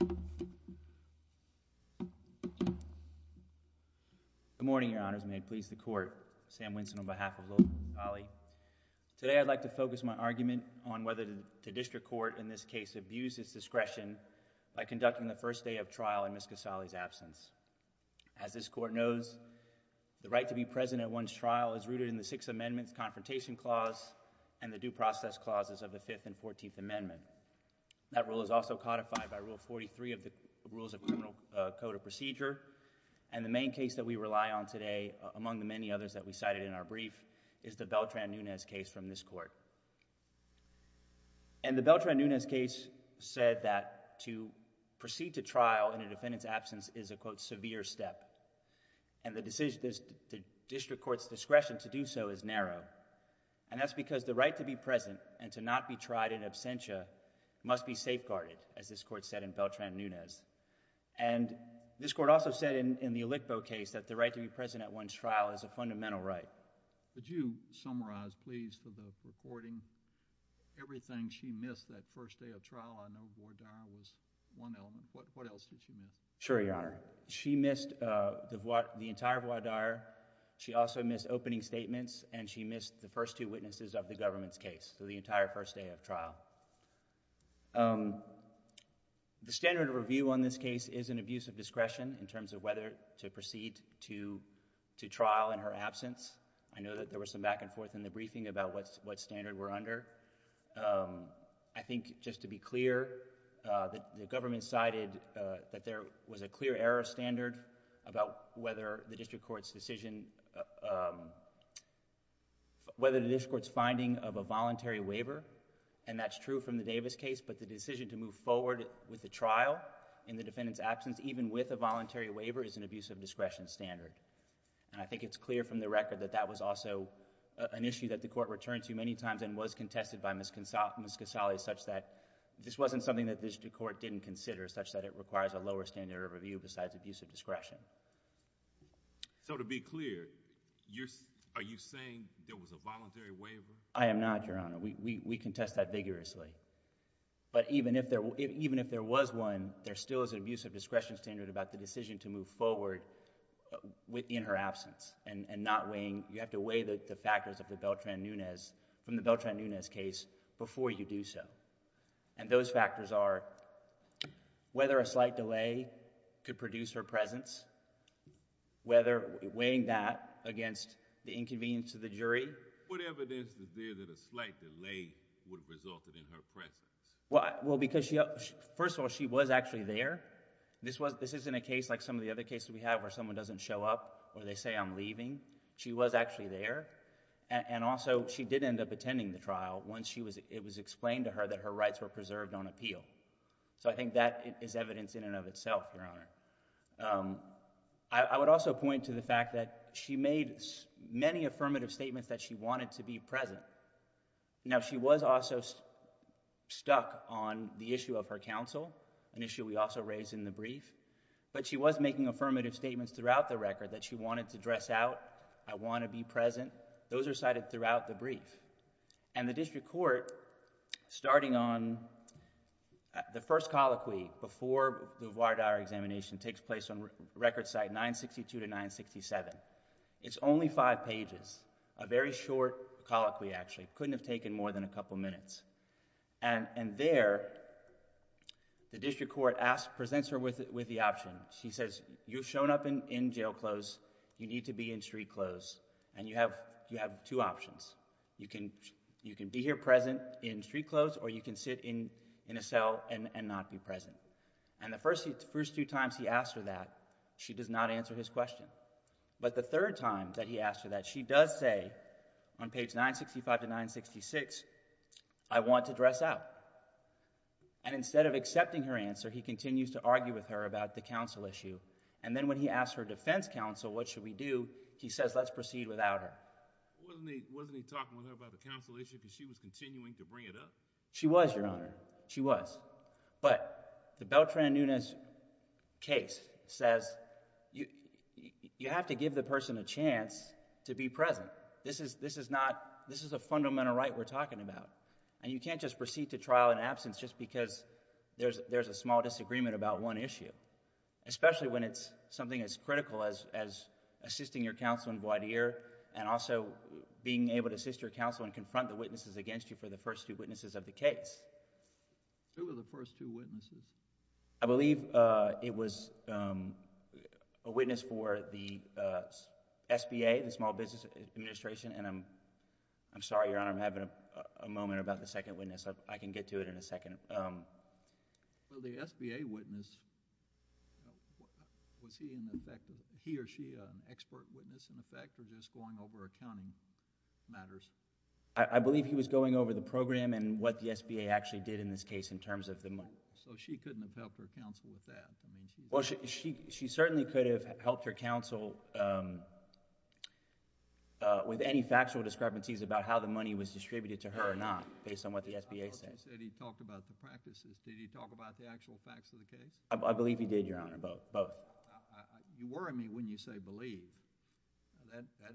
Good morning, Your Honors, and may it please the Court, Sam Winson on behalf of Lola Kasali. Today I'd like to focus my argument on whether the District Court in this case abused its discretion by conducting the first day of trial in Ms. Kasali's absence. As this Court knows, the right to be present at one's trial is rooted in the Sixth Amendment's That rule is also codified by Rule 43 of the Rules of Criminal Code of Procedure. And the main case that we rely on today, among the many others that we cited in our brief, is the Beltran-Nunez case from this Court. And the Beltran-Nunez case said that to proceed to trial in a defendant's absence is a quote severe step. And the District Court's discretion to do so is narrow. And that's because the right to be present and to not be tried in absentia must be safeguarded, as this Court said in Beltran-Nunez. And this Court also said in the Alitbo case that the right to be present at one's trial is a fundamental right. Would you summarize, please, for the recording, everything she missed that first day of trial? I know voir dire was one element. What else did she miss? Sure, Your Honor. She missed the entire voir dire. She also missed opening statements, and she missed the first two witnesses of the government's case, so the entire first day of trial. The standard of review on this case is an abuse of discretion in terms of whether to proceed to trial in her absence. I know that there was some back and forth in the briefing about what standard we're under. I think just to be clear, the government cited that there was a clear error standard about whether the district court's decision... whether the district court's finding of a voluntary waiver, and that's true from the Davis case, but the decision to move forward with the trial in the defendant's absence, even with a voluntary waiver, is an abuse of discretion standard. And I think it's clear from the record that that was also an issue that the Court returned to many times and was contested by Ms. Casale such that this wasn't something that the district court didn't consider, such that it requires a lower standard of review besides abuse of discretion. So to be clear, are you saying there was a voluntary waiver? I am not, Your Honor. We contest that vigorously. But even if there was one, there still is an abuse of discretion standard about the decision to move forward in her absence and not weighing... you have to weigh the factors of the Beltran-Nunez... from the Beltran-Nunez case before you do so. And those factors are whether a slight delay could produce her presence, whether weighing that against the inconvenience to the jury... What evidence is there that a slight delay would have resulted in her presence? Well, because she... first of all, she was actually there. This isn't a case like some of the other cases we have where someone doesn't show up or they say I'm leaving. She was actually there. And also, she did end up attending the trial once it was explained to her that her rights were preserved on appeal. So I think that is evidence in and of itself, Your Honor. I would also point to the fact that she made many affirmative statements that she wanted to be present. Now, she was also stuck on the issue of her counsel, an issue we also raised in the brief. But she was making affirmative statements throughout the record that she wanted to dress out, I want to be present. Those are cited throughout the brief. And the district court, starting on the first colloquy before the voir dire examination takes place on record side, 962 to 967, it's only five pages, a very short colloquy actually. It couldn't have taken more than a couple of minutes. And there, the district court presents her with the option. She says, you've shown up in jail clothes, you need to be in street clothes. And you have two options. You can be here present in street clothes or you can sit in a cell and not be present. And the first two times he asks her that, she does not answer his question. But the third time that he asks her that, she does say on page 965 to 966, I want to dress out. And instead of accepting her answer, he continues to argue with her about the counsel issue. And then when he asks her defense counsel, what should we do, he says, let's proceed without her. Wasn't he talking with her about the counsel issue because she was continuing to bring it up? She was, Your Honor. She was. But the Beltran-Nunez case says you have to give the person a chance to be present. This is a fundamental right we're talking about. And you can't just proceed to trial in absence just because there's a small disagreement about one issue. Especially when it's something as critical as assisting your counsel in voir dire and also being able to assist your counsel and confront the witnesses against you for the first two witnesses of the case. Who were the first two witnesses? I believe it was a witness for the SBA, the Small Business Administration, and I'm sorry, Your Honor, I'm having a moment about the second witness. I can get to it in a second. Well, the SBA witness, was he in effect... he or she an expert witness in effect or just going over accounting matters? I believe he was going over the program and what the SBA actually did in this case in terms of the money. So she couldn't have helped her counsel with that? She certainly could have helped her counsel with any factual discrepancies about how the money was distributed to her or not based on what the SBA said. I thought you said he talked about the practices. Did he talk about the actual facts of the case? I believe he did, Your Honor, both. You worry me when you say believe.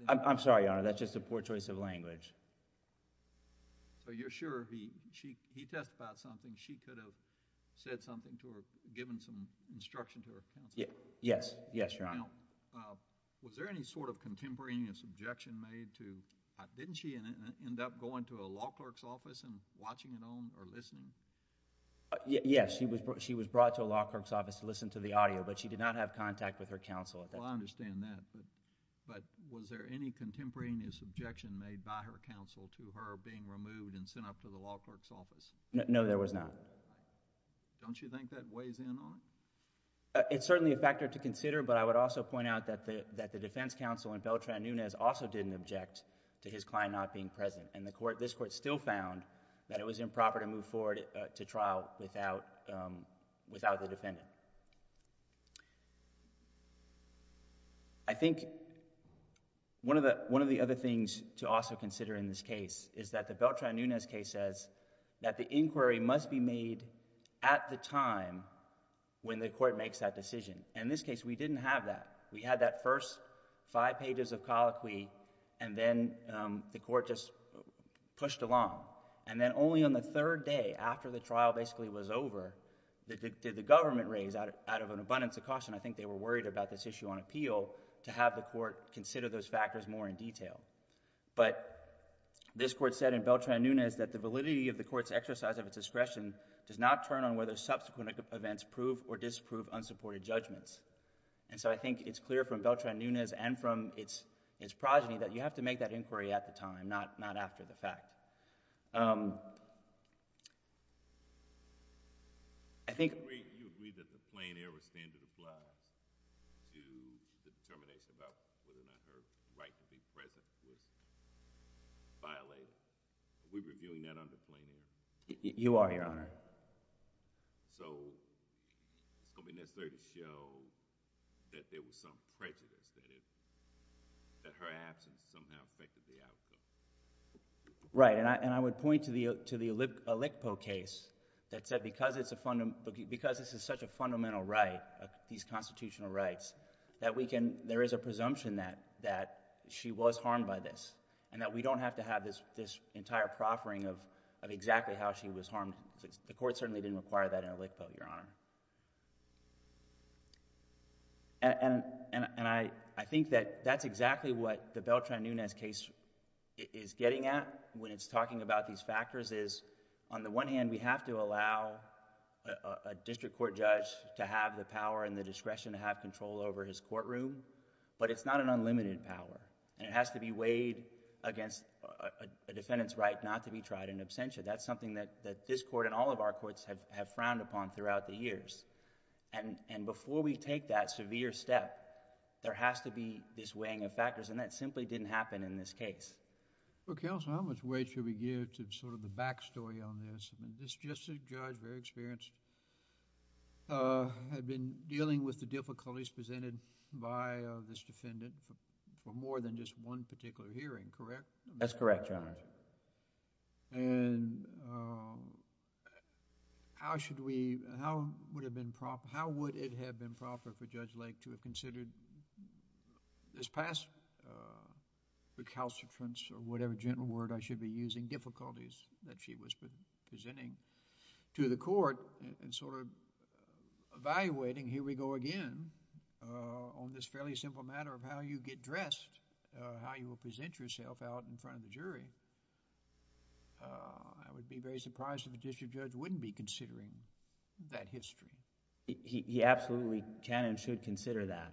I'm sorry, Your Honor, that's just a poor choice of language. So you're sure he testified something, she could have said something to her, given some instruction to her counsel? Yes. Yes, Your Honor. Did she end up going to a law clerk's office and watching it on or listening? Yes. She was brought to a law clerk's office to listen to the audio, but she did not have contact with her counsel at that time. Well, I understand that. But was there any contemporaneous objection made by her counsel to her being removed and sent up to the law clerk's office? No, there was not. Don't you think that weighs in on it? It's certainly a factor to consider, but I would also point out that the defense counsel in Beltran-Nunez also didn't object to his client not being present, and this Court still found that it was improper to move forward to trial without the defendant. I think one of the other things to also consider in this case is that the Beltran-Nunez case says that the inquiry must be made at the time when the Court makes that decision. In this case, we didn't have that. We had that first five pages of colloquy, and then the Court just pushed along. And then only on the third day, after the trial basically was over, did the government raise out of an abundance of caution, I think they were worried about this issue on appeal, to have the Court consider those factors more in detail. But this Court said in Beltran-Nunez that the validity of the Court's exercise of its discretion does not turn on whether subsequent events prove or disprove unsupported judgments. And so I think it's clear from Beltran-Nunez and from its progeny that you have to make that inquiry at the time, not after the fact. I think... You agree that the plain error standard applies to the determination about whether or not her right to be present was violated. Are we reviewing that under plain error? You are, Your Honor. So, it's going to be necessary to show that there was some prejudice, that her absence somehow affected the outcome. Right. And I would point to the Alicpo case that said because this is such a fundamental right, these constitutional rights, that we can... there is a presumption that she was harmed by this, and that we don't have to have this entire proffering of exactly how she was harmed The Court certainly didn't require that in Alicpo, Your Honor. And I think that that's exactly what the Beltran-Nunez case is getting at when it's talking about these factors is, on the one hand, we have to allow a district court judge to have the power and the discretion to have control over his courtroom, but it's not an unlimited power, and it has to be weighed against a defendant's right not to be tried in absentia. That's something that this Court and all of our courts have frowned upon throughout the years. And before we take that severe step, there has to be this weighing of factors, and that simply didn't happen in this case. Well, Counselor, how much weight should we give to sort of the back story on this? This district judge, very experienced, had been dealing with the difficulties presented by this defendant for more than just one particular hearing, correct? That's correct, Your Honor. And how should we, how would have been proper, how would it have been proper for Judge Lake to have considered this past recalcitrance or whatever gentle word I should be using, difficulties that she was presenting to the Court and sort of evaluating, here we go again, on this fairly simple matter of how you get dressed, how you will present yourself out in front of the jury, I would be very surprised if a district judge wouldn't be considering that history. He absolutely can and should consider that,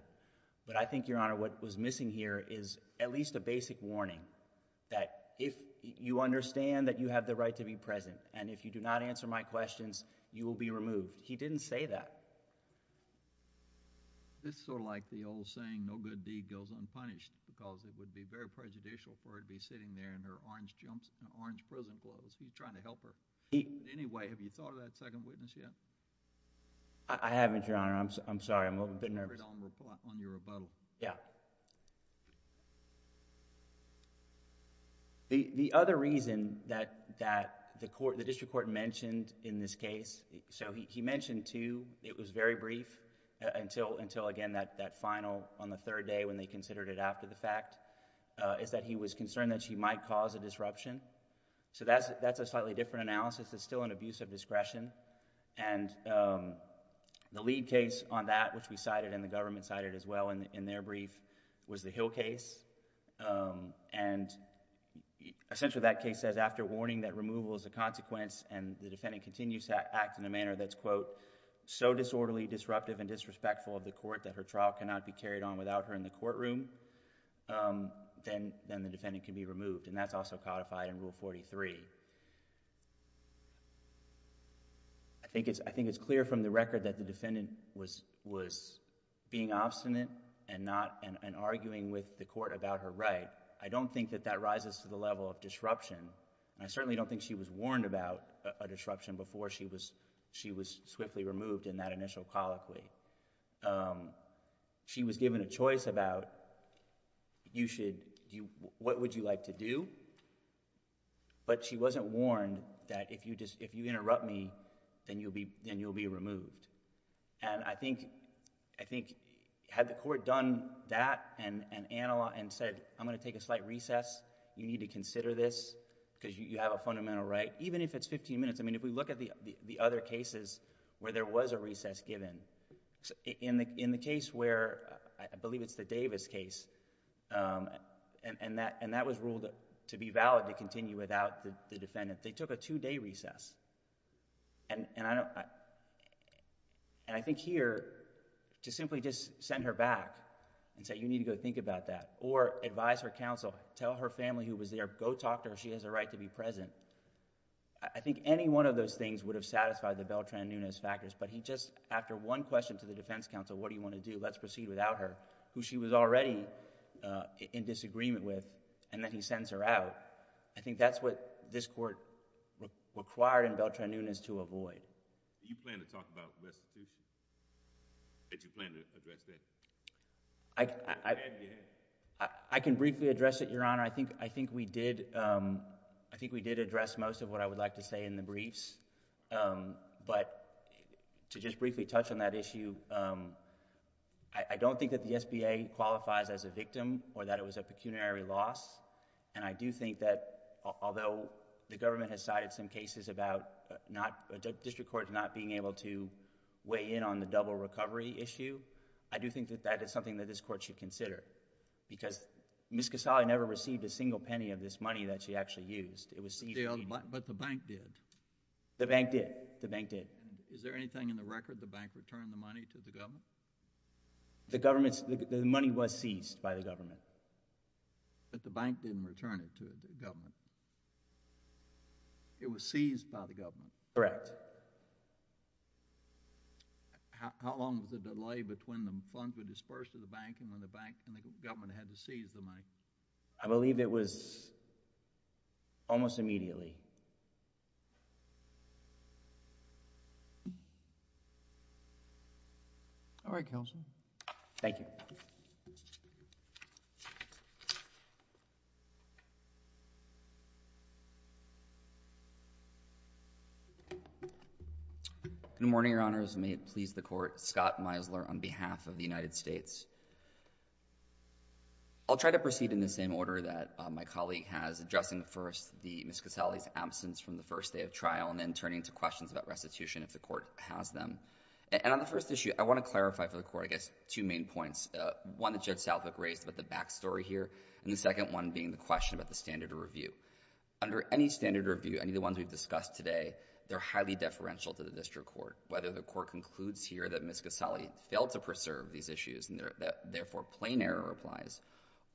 but I think, Your Honor, what was missing here is at least a basic warning that if you understand that you have the right to be present and if you do not answer my questions, you will be removed. He didn't say that. This is sort of like the old saying, no good deed goes unpunished, because it would be very prejudicial for her to be sitting there in her orange jumps and orange prison clothes. He's trying to help her. In any way, have you thought of that second witness yet? I haven't, Your Honor. I've been nervous. I'm going to put it on your rebuttal. Yeah. The other reason that the District Court mentioned in this case, so he mentioned two. It was very brief until, again, that final on the third day when they considered it after the fact, is that he was concerned that she might cause a disruption, so that's a slightly different analysis. It's still an abuse of discretion, and the lead case on that, which we cited and the government cited as well in their brief, was the Hill case, and essentially that case says after warning that removal is a consequence and the defendant continues to act in a manner that's, quote, so disorderly, disruptive, and disrespectful of the court that her trial cannot be carried on without her in the courtroom, then the defendant can be removed, and that's also codified in Rule 43. I think it's clear from the record that the defendant was being obstinate and arguing with the court about her right. I don't think that that rises to the level of disruption, and I certainly don't think she was warned about a disruption before she was swiftly removed in that initial colloquy. She was given a choice about what would you like to do, but she wasn't warned that if you interrupt me, then you'll be removed, and I think had the court done that and said, I'm going to take a slight recess, you need to consider this because you have a fundamental right, even if it's fifteen minutes, I mean, if we look at the other cases where there was a recess given, in the case where, I believe it's the Davis case, and that was ruled to be valid to continue without the defendant, they took a two-day recess, and I think here, to simply just send her back and say you need to go think about that, or advise her counsel, tell her family who was there, go talk to her, she has a right to be present, I think any one of those things would have satisfied the Beltran-Nunez factors, but he just, after one question to the defense counsel, what do you want to do, let's proceed without her, who she was already in disagreement with, and then he sends her out, I think that's what this court required in Beltran-Nunez to avoid. So, do you plan to talk about restitution, that you plan to address that? I can briefly address it, your honor, I think we did address most of what I would like to say in the briefs, but to just briefly touch on that issue, I don't think that the SBA qualifies as a victim, or that it was a pecuniary loss, and I do think that, although the government has cited some cases about district courts not being able to weigh in on the double recovery issue, I do think that that is something that this court should consider, because Ms. Casale never received a single penny of this money that she actually used, it was seized... But the bank did. The bank did. The bank did. Is there anything in the record the bank returned the money to the government? The government's, the money was seized by the government. Correct. But the bank didn't return it to the government. It was seized by the government. Correct. How long was the delay between the funds were dispersed to the bank, and when the bank and the government had to seize the money? I believe it was almost immediately. All right, counsel. Thank you. Mr. McHale. Good morning, Your Honors. May it please the Court. Scott Misler on behalf of the United States. I'll try to proceed in the same order that my colleague has, addressing first Ms. Casale's absence from the first day of trial, and then turning to questions about restitution if the Court has them. And on the first issue, I want to clarify for the Court, I guess, two main points. One that Judge Southwick raised about the backstory here, and the second one being the question about the standard of review. Under any standard of review, any of the ones we've discussed today, they're highly deferential to the district court, whether the Court concludes here that Ms. Casale failed to preserve these issues and therefore plain error applies,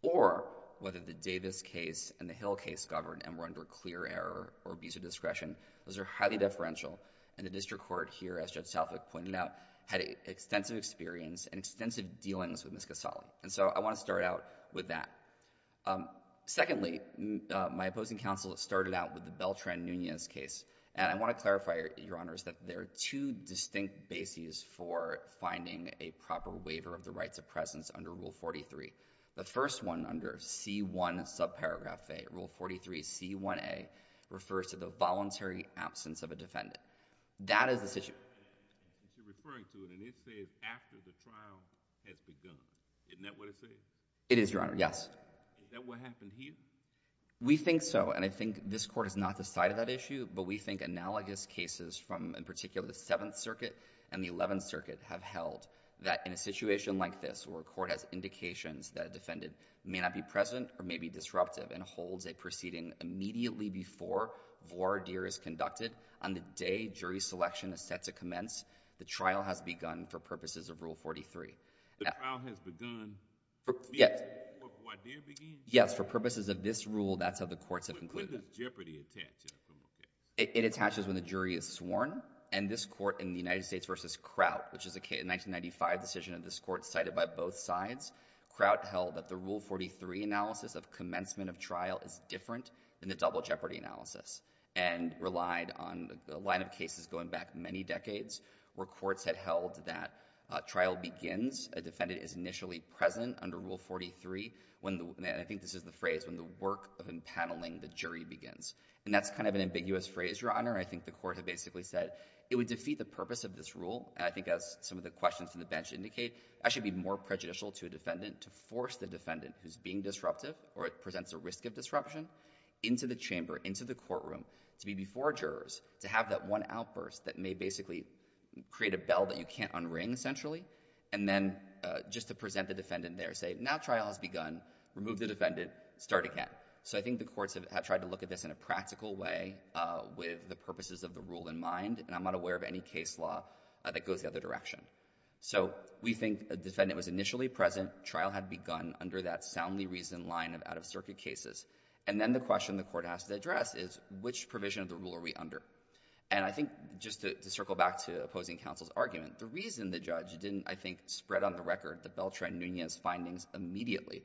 or whether the Davis case and the Hill case governed and were under clear error or abuse of discretion, those are highly deferential, and the district court here, as Judge Southwick pointed out, had extensive experience and extensive dealings with Ms. Casale. And so I want to start out with that. Secondly, my opposing counsel started out with the Beltran-Nunez case, and I want to clarify, Your Honors, that there are two distinct bases for finding a proper waiver of the rights of presence under Rule 43. The first one, under C-1 subparagraph A, Rule 43, C-1A, refers to the voluntary absence of a defendant. That is the situation. You're referring to it, and it says, after the trial has begun. Isn't that what it says? It is, Your Honor, yes. Is that what happened here? We think so, and I think this Court has not decided that issue, but we think analogous cases from, in particular, the 7th Circuit and the 11th Circuit have held that in a situation like this, where a court has indications that a defendant may not be present or may be disruptive and holds a proceeding immediately before voir dire is conducted, on the day jury selection is set to commence, the trial has begun for purposes of Rule 43. The trial has begun before voir dire begins? Yes, for purposes of this rule, that's how the courts have concluded it. When does jeopardy attach? It attaches when the jury is sworn, and this Court in the United States v. Kraut, which is a 1995 decision of this Court cited by both sides, Kraut held that the Rule 43 analysis of commencement of trial is different than the double jeopardy analysis, and relied on the line of cases going back many decades, where courts had held that trial begins, a defendant is initially present under Rule 43, and I think this is the phrase, when the work of empaneling the jury begins, and that's kind of an ambiguous phrase, Your Honor. I think the Court had basically said it would defeat the purpose of this rule, and I think as some of the questions from the bench indicate, it actually would be more prejudicial to a or it presents a risk of disruption, into the chamber, into the courtroom, to be before jurors, to have that one outburst that may basically create a bell that you can't unring, essentially, and then just to present the defendant there, say, Now trial has begun, remove the defendant, start again. So I think the courts have tried to look at this in a practical way with the purposes of the rule in mind, and I'm not aware of any case law that goes the other direction. So we think a defendant was initially present, trial had begun under that soundly reasoned line of out-of-circuit cases, and then the question the Court has to address is which provision of the rule are we under? And I think, just to circle back to opposing counsel's argument, the reason the judge didn't, I think, spread on the record the Beltran-Nunez findings immediately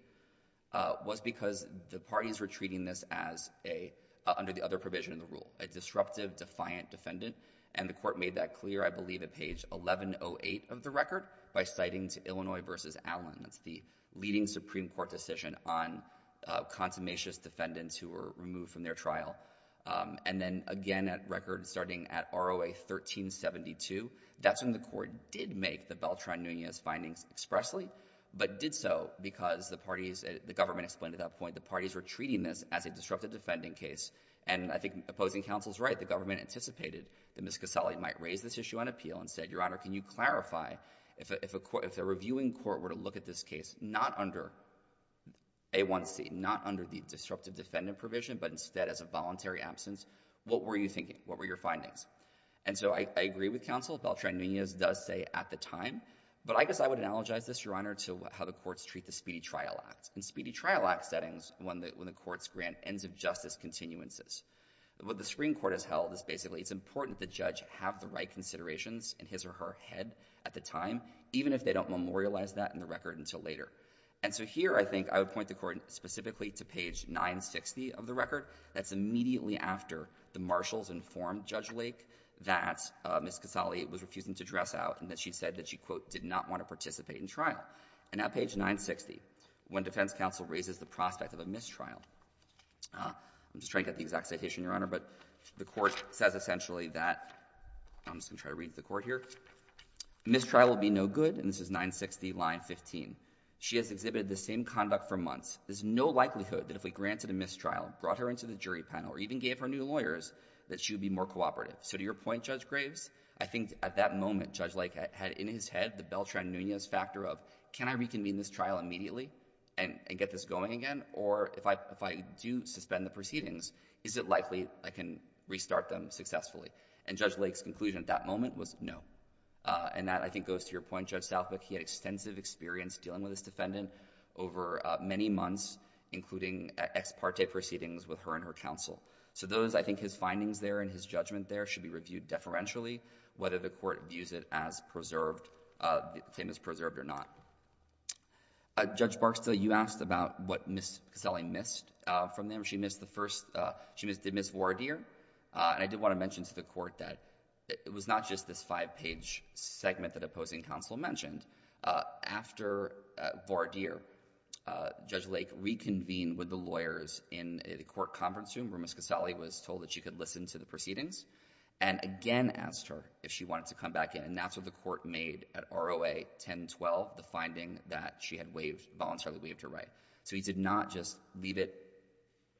was because the parties were treating this as a, under the other provision of the rule, a disruptive, defiant defendant, and the Court made that clear, I believe, at page 1108 of the record, by citing to Illinois v. Allen. That's the leading Supreme Court decision on consummationist defendants who were removed from their trial. And then, again, at record starting at ROA 1372, that's when the Court did make the Beltran-Nunez findings expressly, but did so because the parties, the government explained at that point the parties were treating this as a disruptive defending case, and I think opposing counsel's right. The government anticipated that Ms. Casale might raise this issue on appeal and said, Your Honor, can you clarify, if a reviewing court were to look at this case, not under A1C, not under the disruptive defendant provision, but instead as a voluntary absence, what were you thinking? What were your findings? And so I agree with counsel, Beltran-Nunez does say at the time, but I guess I would analogize this, Your Honor, to how the courts treat the Speedy Trial Act. In Speedy Trial Act settings, when the courts grant ends of justice continuances, what the Supreme Court has held is basically it's important the judge have the right considerations in his or her head at the time, even if they don't memorialize that in the record until later. And so here I think I would point the Court specifically to page 960 of the record. That's immediately after the marshals informed Judge Lake that Ms. Casale was refusing to dress out and that she said that she, quote, did not want to participate in trial. And at page 960, when defense counsel raises the prospect of a mistrial, I'm just trying to get the exact citation, Your Honor, but the Court says essentially that, I'm just going to try to read the Court here, mistrial will be no good. And this is 960, line 15. She has exhibited the same conduct for months. There's no likelihood that if we granted a mistrial, brought her into the jury panel, or even gave her new lawyers, that she would be more cooperative. So to your point, Judge Graves, I think at that moment, Judge Lake had in his head the Beltran-Nunez factor of, can I reconvene this trial immediately and get this going again? Or if I do suspend the proceedings, is it likely I can restart them successfully? And Judge Lake's conclusion at that moment was no. And that, I think, goes to your point, Judge Southwick. He had extensive experience dealing with this defendant over many months, including ex parte proceedings with her and her counsel. So those, I think, his findings there and his judgment there should be reviewed deferentially, whether the Court views it as preserved, the claim is preserved or not. Judge Barksdale, you asked about what Ms. Casale missed from them. She missed the first, she missed Ms. Voiradier. And I did want to mention to the Court that it was not just this five-page segment that opposing counsel mentioned. After Voiradier, Judge Lake reconvened with the lawyers in the Court conference room where Ms. Casale was told that she could listen to the proceedings, and again asked her if she wanted to come back in. And that's what the Court made at ROA 1012, the finding that she had voluntarily waived her right. So he did not just leave it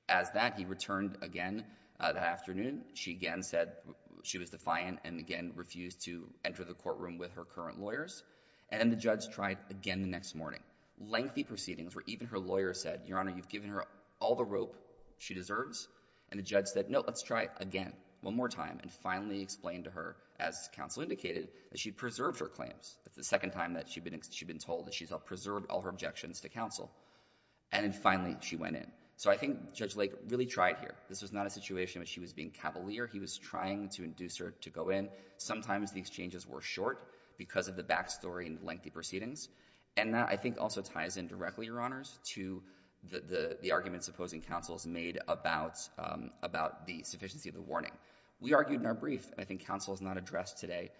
as that. He returned again that afternoon. She again said she was defiant and again refused to enter the courtroom with her current lawyers. And then the judge tried again the next morning. Lengthy proceedings where even her lawyer said, Your Honor, you've given her all the rope she deserves. And the judge said, no, let's try again, one more time, and finally explained to her, as counsel indicated, that she preserved her claims. That's the second time that she'd been told that she's preserved all her objections to counsel. And then finally, she went in. So I think Judge Lake really tried here. This was not a situation where she was being cavalier. He was trying to induce her to go in. Sometimes the exchanges were short because of the back story and lengthy proceedings. And that, I think, also ties in directly, Your Honors, to the arguments opposing counsels made about the sufficiency of the warning. We argued in our brief, and I think counsel has not addressed today,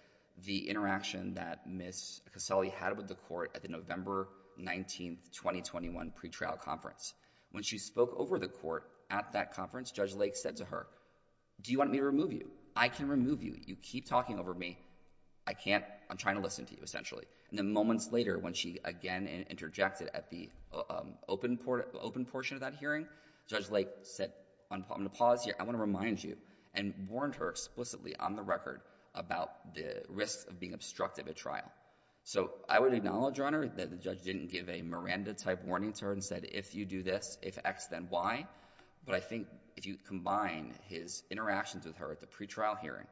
the interaction that Ms. Casale had with the Court at the November 19, 2021 pretrial conference. When she spoke over the Court at that conference, Judge Lake said to her, do you want me to remove you? I can remove you. You keep talking over me. I can't. I'm trying to listen to you, essentially. And then moments later, when she again interjected at the open portion of that hearing, Judge Lake said, I'm going to pause here. I want to remind you, and warned her explicitly on the record about the risks of being obstructive at trial. So I would acknowledge, Your Honor, that the judge didn't give a Miranda-type warning to her and said, if you do this, if X, then Y, but I think if you combine his interactions with her at the pretrial hearing,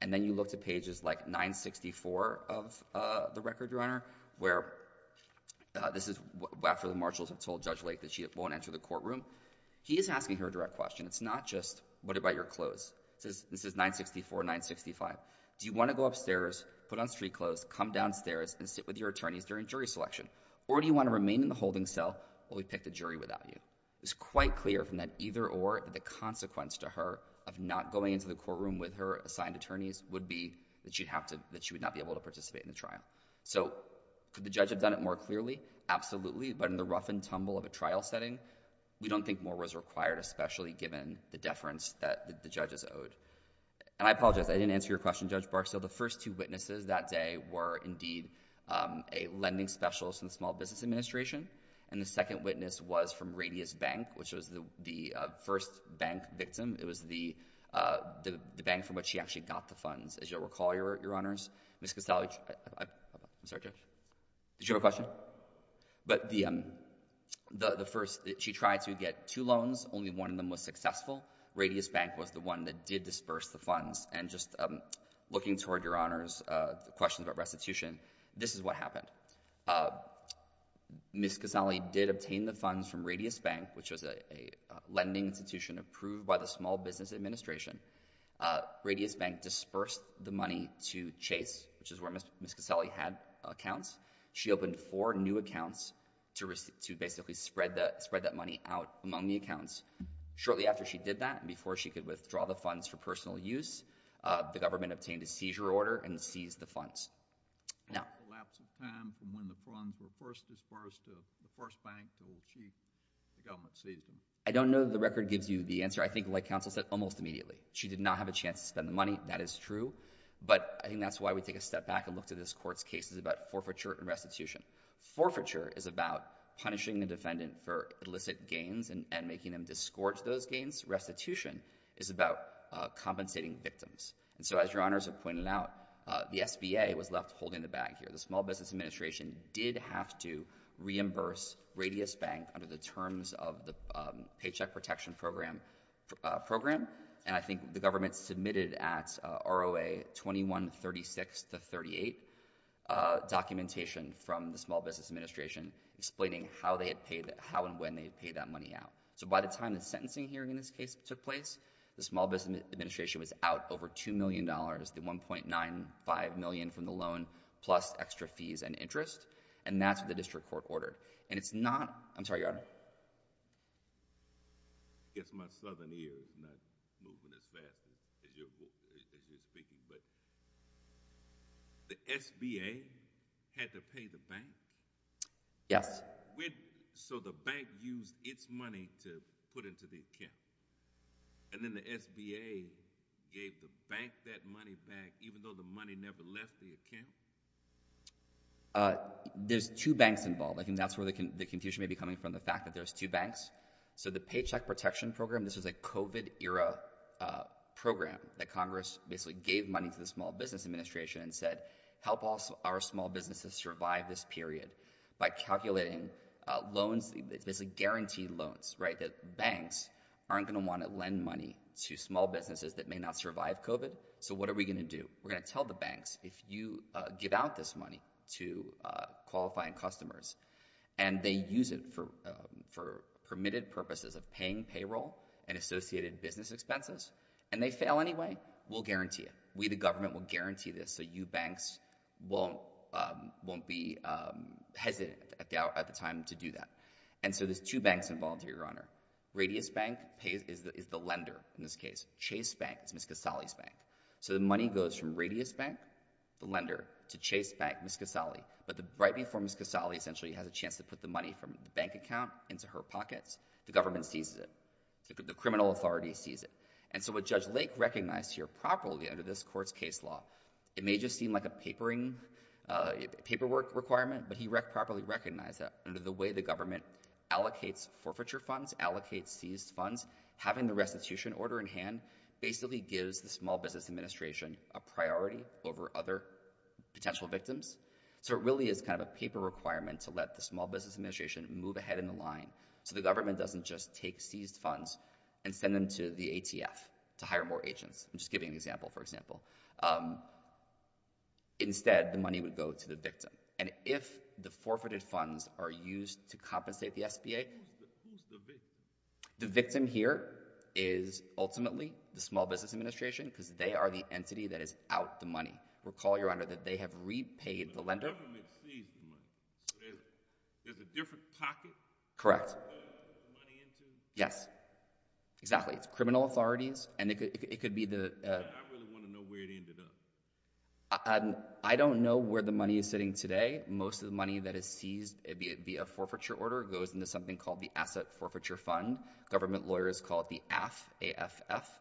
and then you look to pages like 964 of the record, Your Honor, where this is after the marshals have told Judge Lake that she won't enter the courtroom. He is asking her a direct question. It's not just, what about your clothes? This is 964, 965. Do you want to go upstairs, put on street clothes, come downstairs, and sit with your attorneys during jury selection? Or do you want to remain in the holding cell while we pick the jury without you? It was quite clear from that either or that the consequence to her of not going into the courtroom with her assigned attorneys would be that she would not be able to participate in the trial. So could the judge have done it more clearly? Absolutely, but in the rough and tumble of a trial setting, we don't think more was required, especially given the deference that the judges owed. And I apologize, I didn't answer your question, Judge Barksdale. So the first two witnesses that day were, indeed, a lending specialist in the Small Business Administration, and the second witness was from Radius Bank, which was the first bank victim. It was the bank from which she actually got the funds. As you'll recall, Your Honors, Ms. Castelli... did you have a question? But the first... she tried to get two loans, only one of them was successful. Radius Bank was the one that did disperse the funds. And just looking toward Your Honors' questions about restitution, this is what happened. Ms. Castelli did obtain the funds from Radius Bank, which was a lending institution approved by the Small Business Administration. Radius Bank dispersed the money to Chase, which is where Ms. Castelli had accounts. She opened four new accounts to basically spread that money out among the accounts. Shortly after she did that, and before she could withdraw the funds for personal use, the government obtained a seizure order and seized the funds. Now... In the lapse of time from when the funds were first dispersed to the first bank to old Chief, the government seized them. I don't know that the record gives you the answer. I think, like counsel said, almost immediately. She did not have a chance to spend the money, that is true. But I think that's why we take a step back and look to this court's cases about forfeiture and restitution. Forfeiture is about punishing the defendant for illicit gains and making them disgorge those gains. Restitution is about compensating victims. And so, as Your Honors have pointed out, the SBA was left holding the bag here. The Small Business Administration did have to reimburse Radius Bank under the terms of the Paycheck Protection Program, and I think the government submitted at ROA 2136 to 38 documentation from the Small Business Administration explaining how they had paid, how and when they had paid that money out. So, by the time the sentencing hearing in this case took place, the Small Business Administration was out over $2 million, the $1.95 million from the loan plus extra fees and interest, and that's what the district court ordered. And it's not... I'm sorry, Your Honor. I guess my southern ear is not moving as fast as you're speaking, but the SBA had to pay the bank. Yes. So, the bank used its money to put into the account, and then the SBA gave the bank that money back even though the money never left the account? There's two banks involved. I think that's where the confusion may be coming from, the fact that there's two banks. So, the Paycheck Protection Program, this was a COVID-era program that Congress basically gave money to the Small Business Administration and said, Help our small businesses survive this period by calculating loans, basically guaranteed loans, right, that banks aren't going to want to lend money to small businesses that may not survive COVID. So, what are we going to do? We're going to tell the banks, if you give out this money to qualifying customers and they use it for permitted purposes of paying payroll and associated business expenses and they fail anyway, we'll guarantee it. We, the government, will guarantee this so you banks won't be hesitant at the time to do that. And so, there's two banks involved here, Your Honor. Radius Bank is the lender in this case. Chase Bank is Ms. Casale's bank. So, the money goes from Radius Bank, the lender, to Chase Bank, Ms. Casale, but right before Ms. Casale essentially has a chance to put the money from the bank account into her pockets, the government seizes it. The criminal authority seizes it. And so, what Judge Lake recognized here properly under this court's case law, it may just seem like a paperwork requirement, but he properly recognized that under the way the government allocates forfeiture funds, allocates seized funds, having the restitution order in hand basically gives the Small Business Administration a priority over other potential victims. So, it really is kind of a paper requirement to let the Small Business Administration move ahead in the line so the government doesn't just take the money to the ATF to hire more agents. I'm just giving an example, for example. Instead, the money would go to the victim. And if the forfeited funds are used to compensate the SBA. Who's the victim? The victim here is ultimately the Small Business Administration because they are the entity that is out the money. Recall, Your Honor, that they have repaid the lender. The government seized the money. So, there's a different pocket? Correct. To put the money into? Yes. Exactly. It's criminal authorities and it could be the... I really want to know where it ended up. I don't know where the money is sitting today. Most of the money that is seized via forfeiture order goes into something called the Asset Forfeiture Fund. Government lawyers call it the AFF. A-F-F.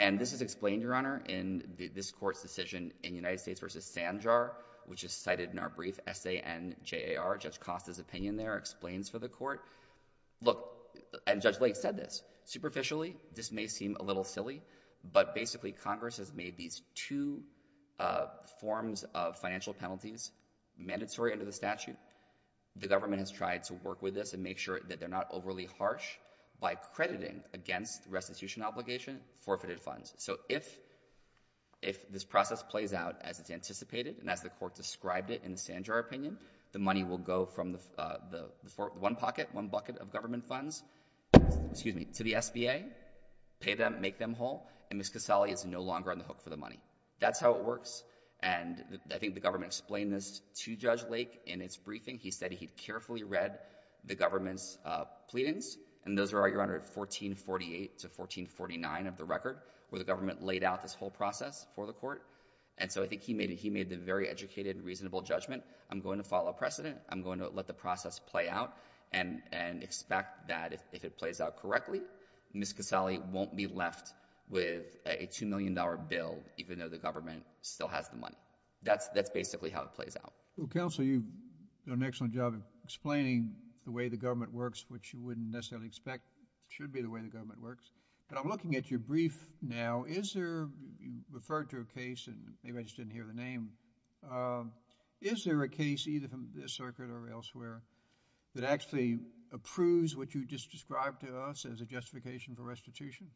And this is explained, Your Honor, in this court's decision in United States versus Sanjar, which is cited in our brief, S-A-N-J-A-R. Judge Costa's opinion there explains for the court. Look, and Judge Lake said this, superficially, this may seem a little silly, but basically Congress has made these two forms of financial penalties mandatory under the statute. The government has tried to work with this and make sure that they're not overly harsh by crediting against restitution obligation forfeited funds. So, if this process plays out as it's anticipated and as the court described it in the Sanjar opinion, the money will go from the one pocket, one bucket of government funds, excuse me, to the SBA, pay them, make them whole. And Ms. Casale is no longer on the hook for the money. That's how it works. And I think the government explained this to Judge Lake in its briefing. He said he'd carefully read the government's pleadings. And those were, Your Honor, at 1448 to 1449 of the record, where the government laid out this whole process for the court. And so I think he made the very educated, reasonable judgment. I'm going to follow precedent. I'm going to let the process play out and expect that if it plays out correctly, Ms. Casale won't be left with a $2 million bill, even though the government still has the money. That's basically how it plays out. Well, counsel, you've done an excellent job of explaining the way the government works, which you wouldn't necessarily expect should be the way the government works. But I'm looking at your brief now. Is there, you referred to a case, and maybe I just didn't hear the name. Is there a case, either from this circuit or elsewhere, that actually approves what you just described to us as a justification for restitution?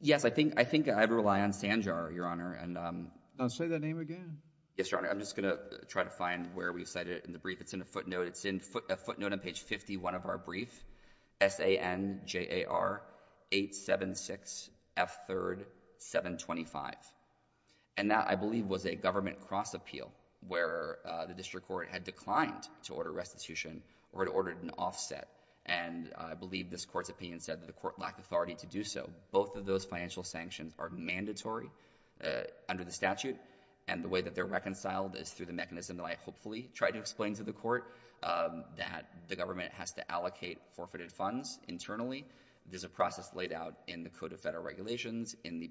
Yes. I think I'd rely on Sanjar, Your Honor. Say that name again. Yes, Your Honor. I'm just going to try to find where we cited it in the brief. It's in a footnote. It's in a footnote on page 51 of our brief, S-A-N-J-A-R-8-7-6-F-3-7-25. And that, I believe, was a government cross-appeal where the district court had declined to order restitution or had ordered an offset. And I believe this court's opinion said that the court lacked authority to do so. Both of those financial sanctions are mandatory under the statute. And the way that they're reconciled is through the mechanism that I hopefully tried to explain to the court, that the government has to allocate forfeited funds internally. There's a process laid out in the Code of Federal Regulations, in the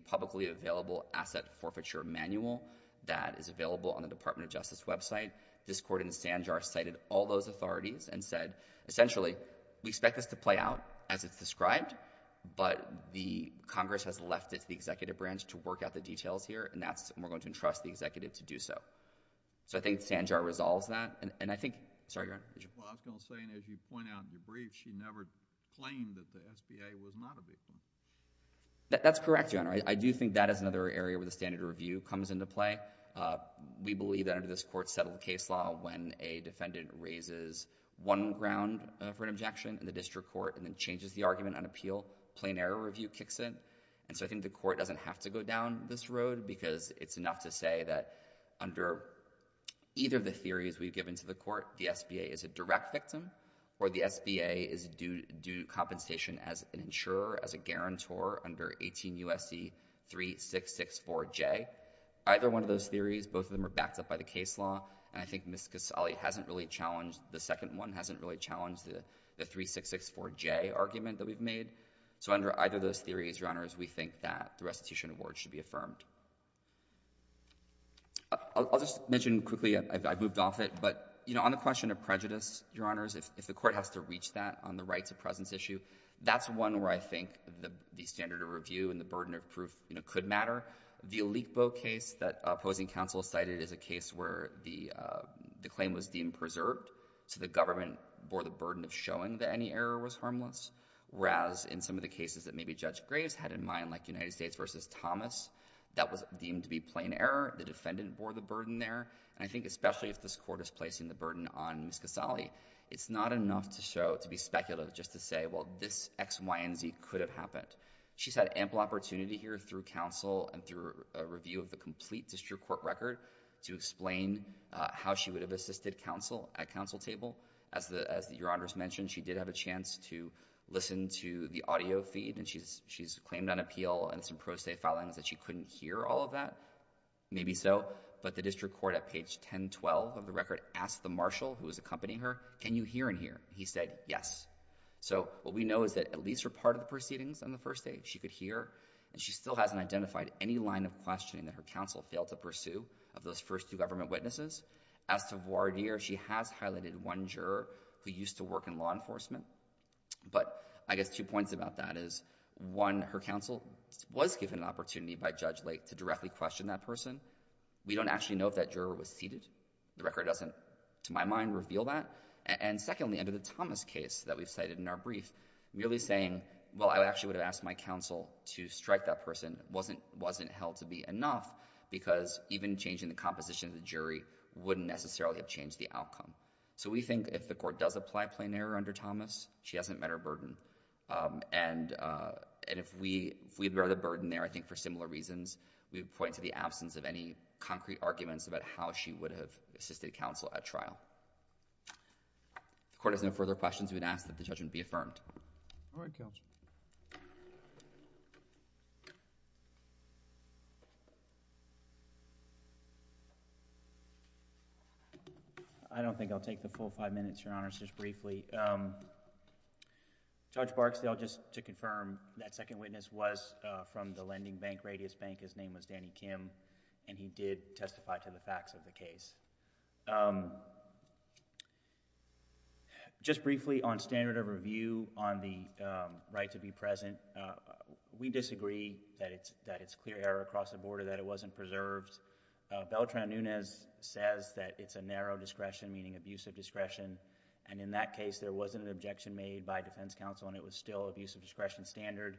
Offset Forfeiture Manual, that is available on the Department of Justice website. This court in Sanjar cited all those authorities and said, essentially, we expect this to play out as it's described, but the Congress has left it to the executive branch to work out the details here, and we're going to entrust the executive to do so. So I think Sanjar resolves that. And I think – sorry, Your Honor. Well, I was going to say, and as you point out in your brief, she never claimed that the SBA was not a victim. That's correct, Your Honor. I do think that is another area where the standard review comes into play. We believe that under this court-settled case law, when a defendant raises one ground for an objection in the district court and then changes the argument on appeal, plain error review kicks in. And so I think the court doesn't have to go down this road because it's enough to say that under either of the theories we've given to the court, the SBA is a direct victim or the SBA is due compensation as an insurer, as a guarantor under 18 U.S.C. 3664J. Either one of those theories, both of them are backed up by the case law, and I think Ms. Casale hasn't really challenged – the second one hasn't really challenged the 3664J argument that we've made. So under either of those theories, Your Honors, we think that the restitution award should be affirmed. I'll just mention quickly – I've moved off it – but, you know, on the question of prejudice, Your Honors, if the court has to reach that on the right to presence issue, that's one where I think the standard of review and the burden of proof could matter. The Leekbo case that opposing counsel cited is a case where the claim was deemed preserved, so the government bore the burden of showing that any error was harmless, whereas in some of the cases that maybe Judge Graves had in mind, like United States v. Thomas, that was deemed to be plain error, the defendant bore the burden there. And I think especially if this court is placing the burden on Ms. Casale, it's ridiculous just to say, well, this X, Y, and Z could have happened. She's had ample opportunity here through counsel and through a review of the complete district court record to explain how she would have assisted counsel at counsel table. As Your Honors mentioned, she did have a chance to listen to the audio feed, and she's claimed on appeal and some pro se filings that she couldn't hear all of that. Maybe so, but the district court at page 1012 of the record asked the marshal who was accompanying her, can you hear and hear? He said, yes. So what we know is that at least for part of the proceedings on the first day, she could hear, and she still hasn't identified any line of questioning that her counsel failed to pursue of those first two government witnesses. As to voir dire, she has highlighted one juror who used to work in law enforcement. But I guess two points about that is, one, her counsel was given an opportunity by Judge Lake to directly question that person. We don't actually know if that juror was seated. The record doesn't, to my mind, reveal that. And secondly, under the Thomas case that we've cited in our brief, merely saying, well, I actually would have asked my counsel to strike that person wasn't held to be enough, because even changing the composition of the jury wouldn't necessarily have changed the outcome. So we think if the court does apply plain error under Thomas, she hasn't met her burden. And if we bear the burden there, I think for similar reasons, we would point to the absence of any concrete arguments about how she would have assisted counsel at trial. If the court has no further questions, we would ask that the judgment be affirmed. All right, counsel. I don't think I'll take the full five minutes, Your Honors, just briefly. Judge Barksdale, just to confirm, that second witness was from the lending bank, Radius Bank. His name was Danny Kim. And he did testify to the facts of the case. Just briefly, on standard of review, on the right to be present, we disagree that it's clear error across the border that it wasn't preserved. Beltran Nunez says that it's a narrow discretion, meaning abusive discretion. And in that case, there wasn't an objection made by defense counsel, and it was still abusive discretion standard.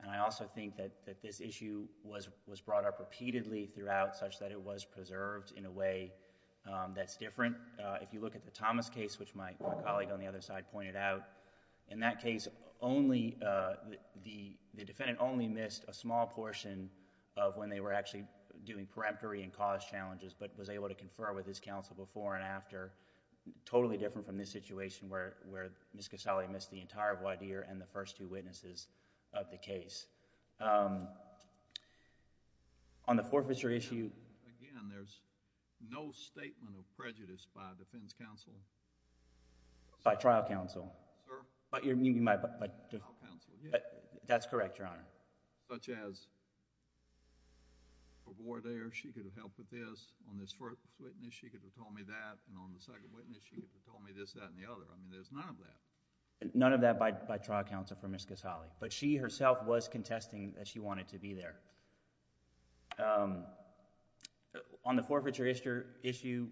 And I also think that this issue was brought up repeatedly throughout such that it was preserved in a way that's different. If you look at the Thomas case, which my colleague on the other side pointed out, in that case, the defendant only missed a small portion of when they were actually doing peremptory and cause challenges, but was able to confer with his counsel before and after. Totally different from this situation where Ms. Casale missed the entire voir dire and the first two witnesses of the case. On the forfeiture issue... Again, there's no statement of prejudice by defense counsel. By trial counsel. Sir? You mean by... By trial counsel, yes. That's correct, Your Honor. Such as a voir dire, she could have helped with this. On this first witness, she could have told me that. And on the second witness, she could have told me this, that, and the other. I mean, there's none of that. But she, herself, was concerned that it was a narrow discretion. that she wanted to be there. On the forfeiture issue,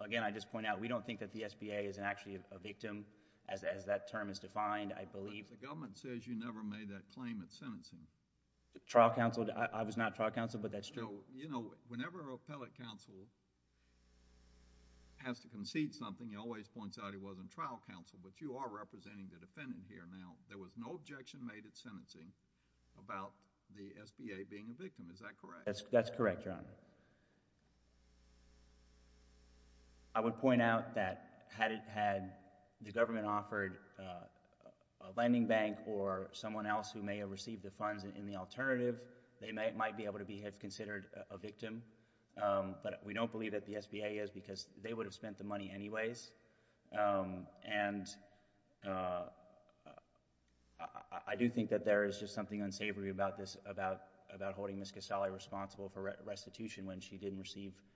again, I just point out, we don't think that the SBA is actually a victim, as that term is defined, I believe. But the government says you never made that claim at sentencing. Trial counsel, I was not trial counsel, but that's true. You know, whenever an appellate counsel has to concede something, he always points out he wasn't trial counsel, but you are representing the defendant here now. There was no objection made at sentencing. But, you know, that's their claim. And I just want to point out that the SBA is the only company that has ever made a claim about the SBA being a victim. Is that correct? That's correct, your Honor. I would point out that had it had the government offered a lending bank or someone else who may have received the funds in the alternative, they might be able to be considered a victim, but we don't believe that the SBA is, because they would have spent the money anyways. And I do think that there is just something unsavory about this, about holding Ms. Casale responsible for restitution when she didn't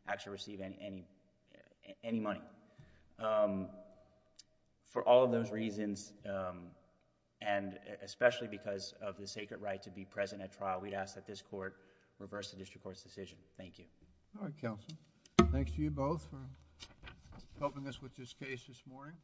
actually receive any money. For all of those reasons, and especially because of the sacred right to be present at trial, we'd ask that this Court reverse the district court's decision. Thank you. All right, counsel. Thanks to you both for helping us with this case this morning.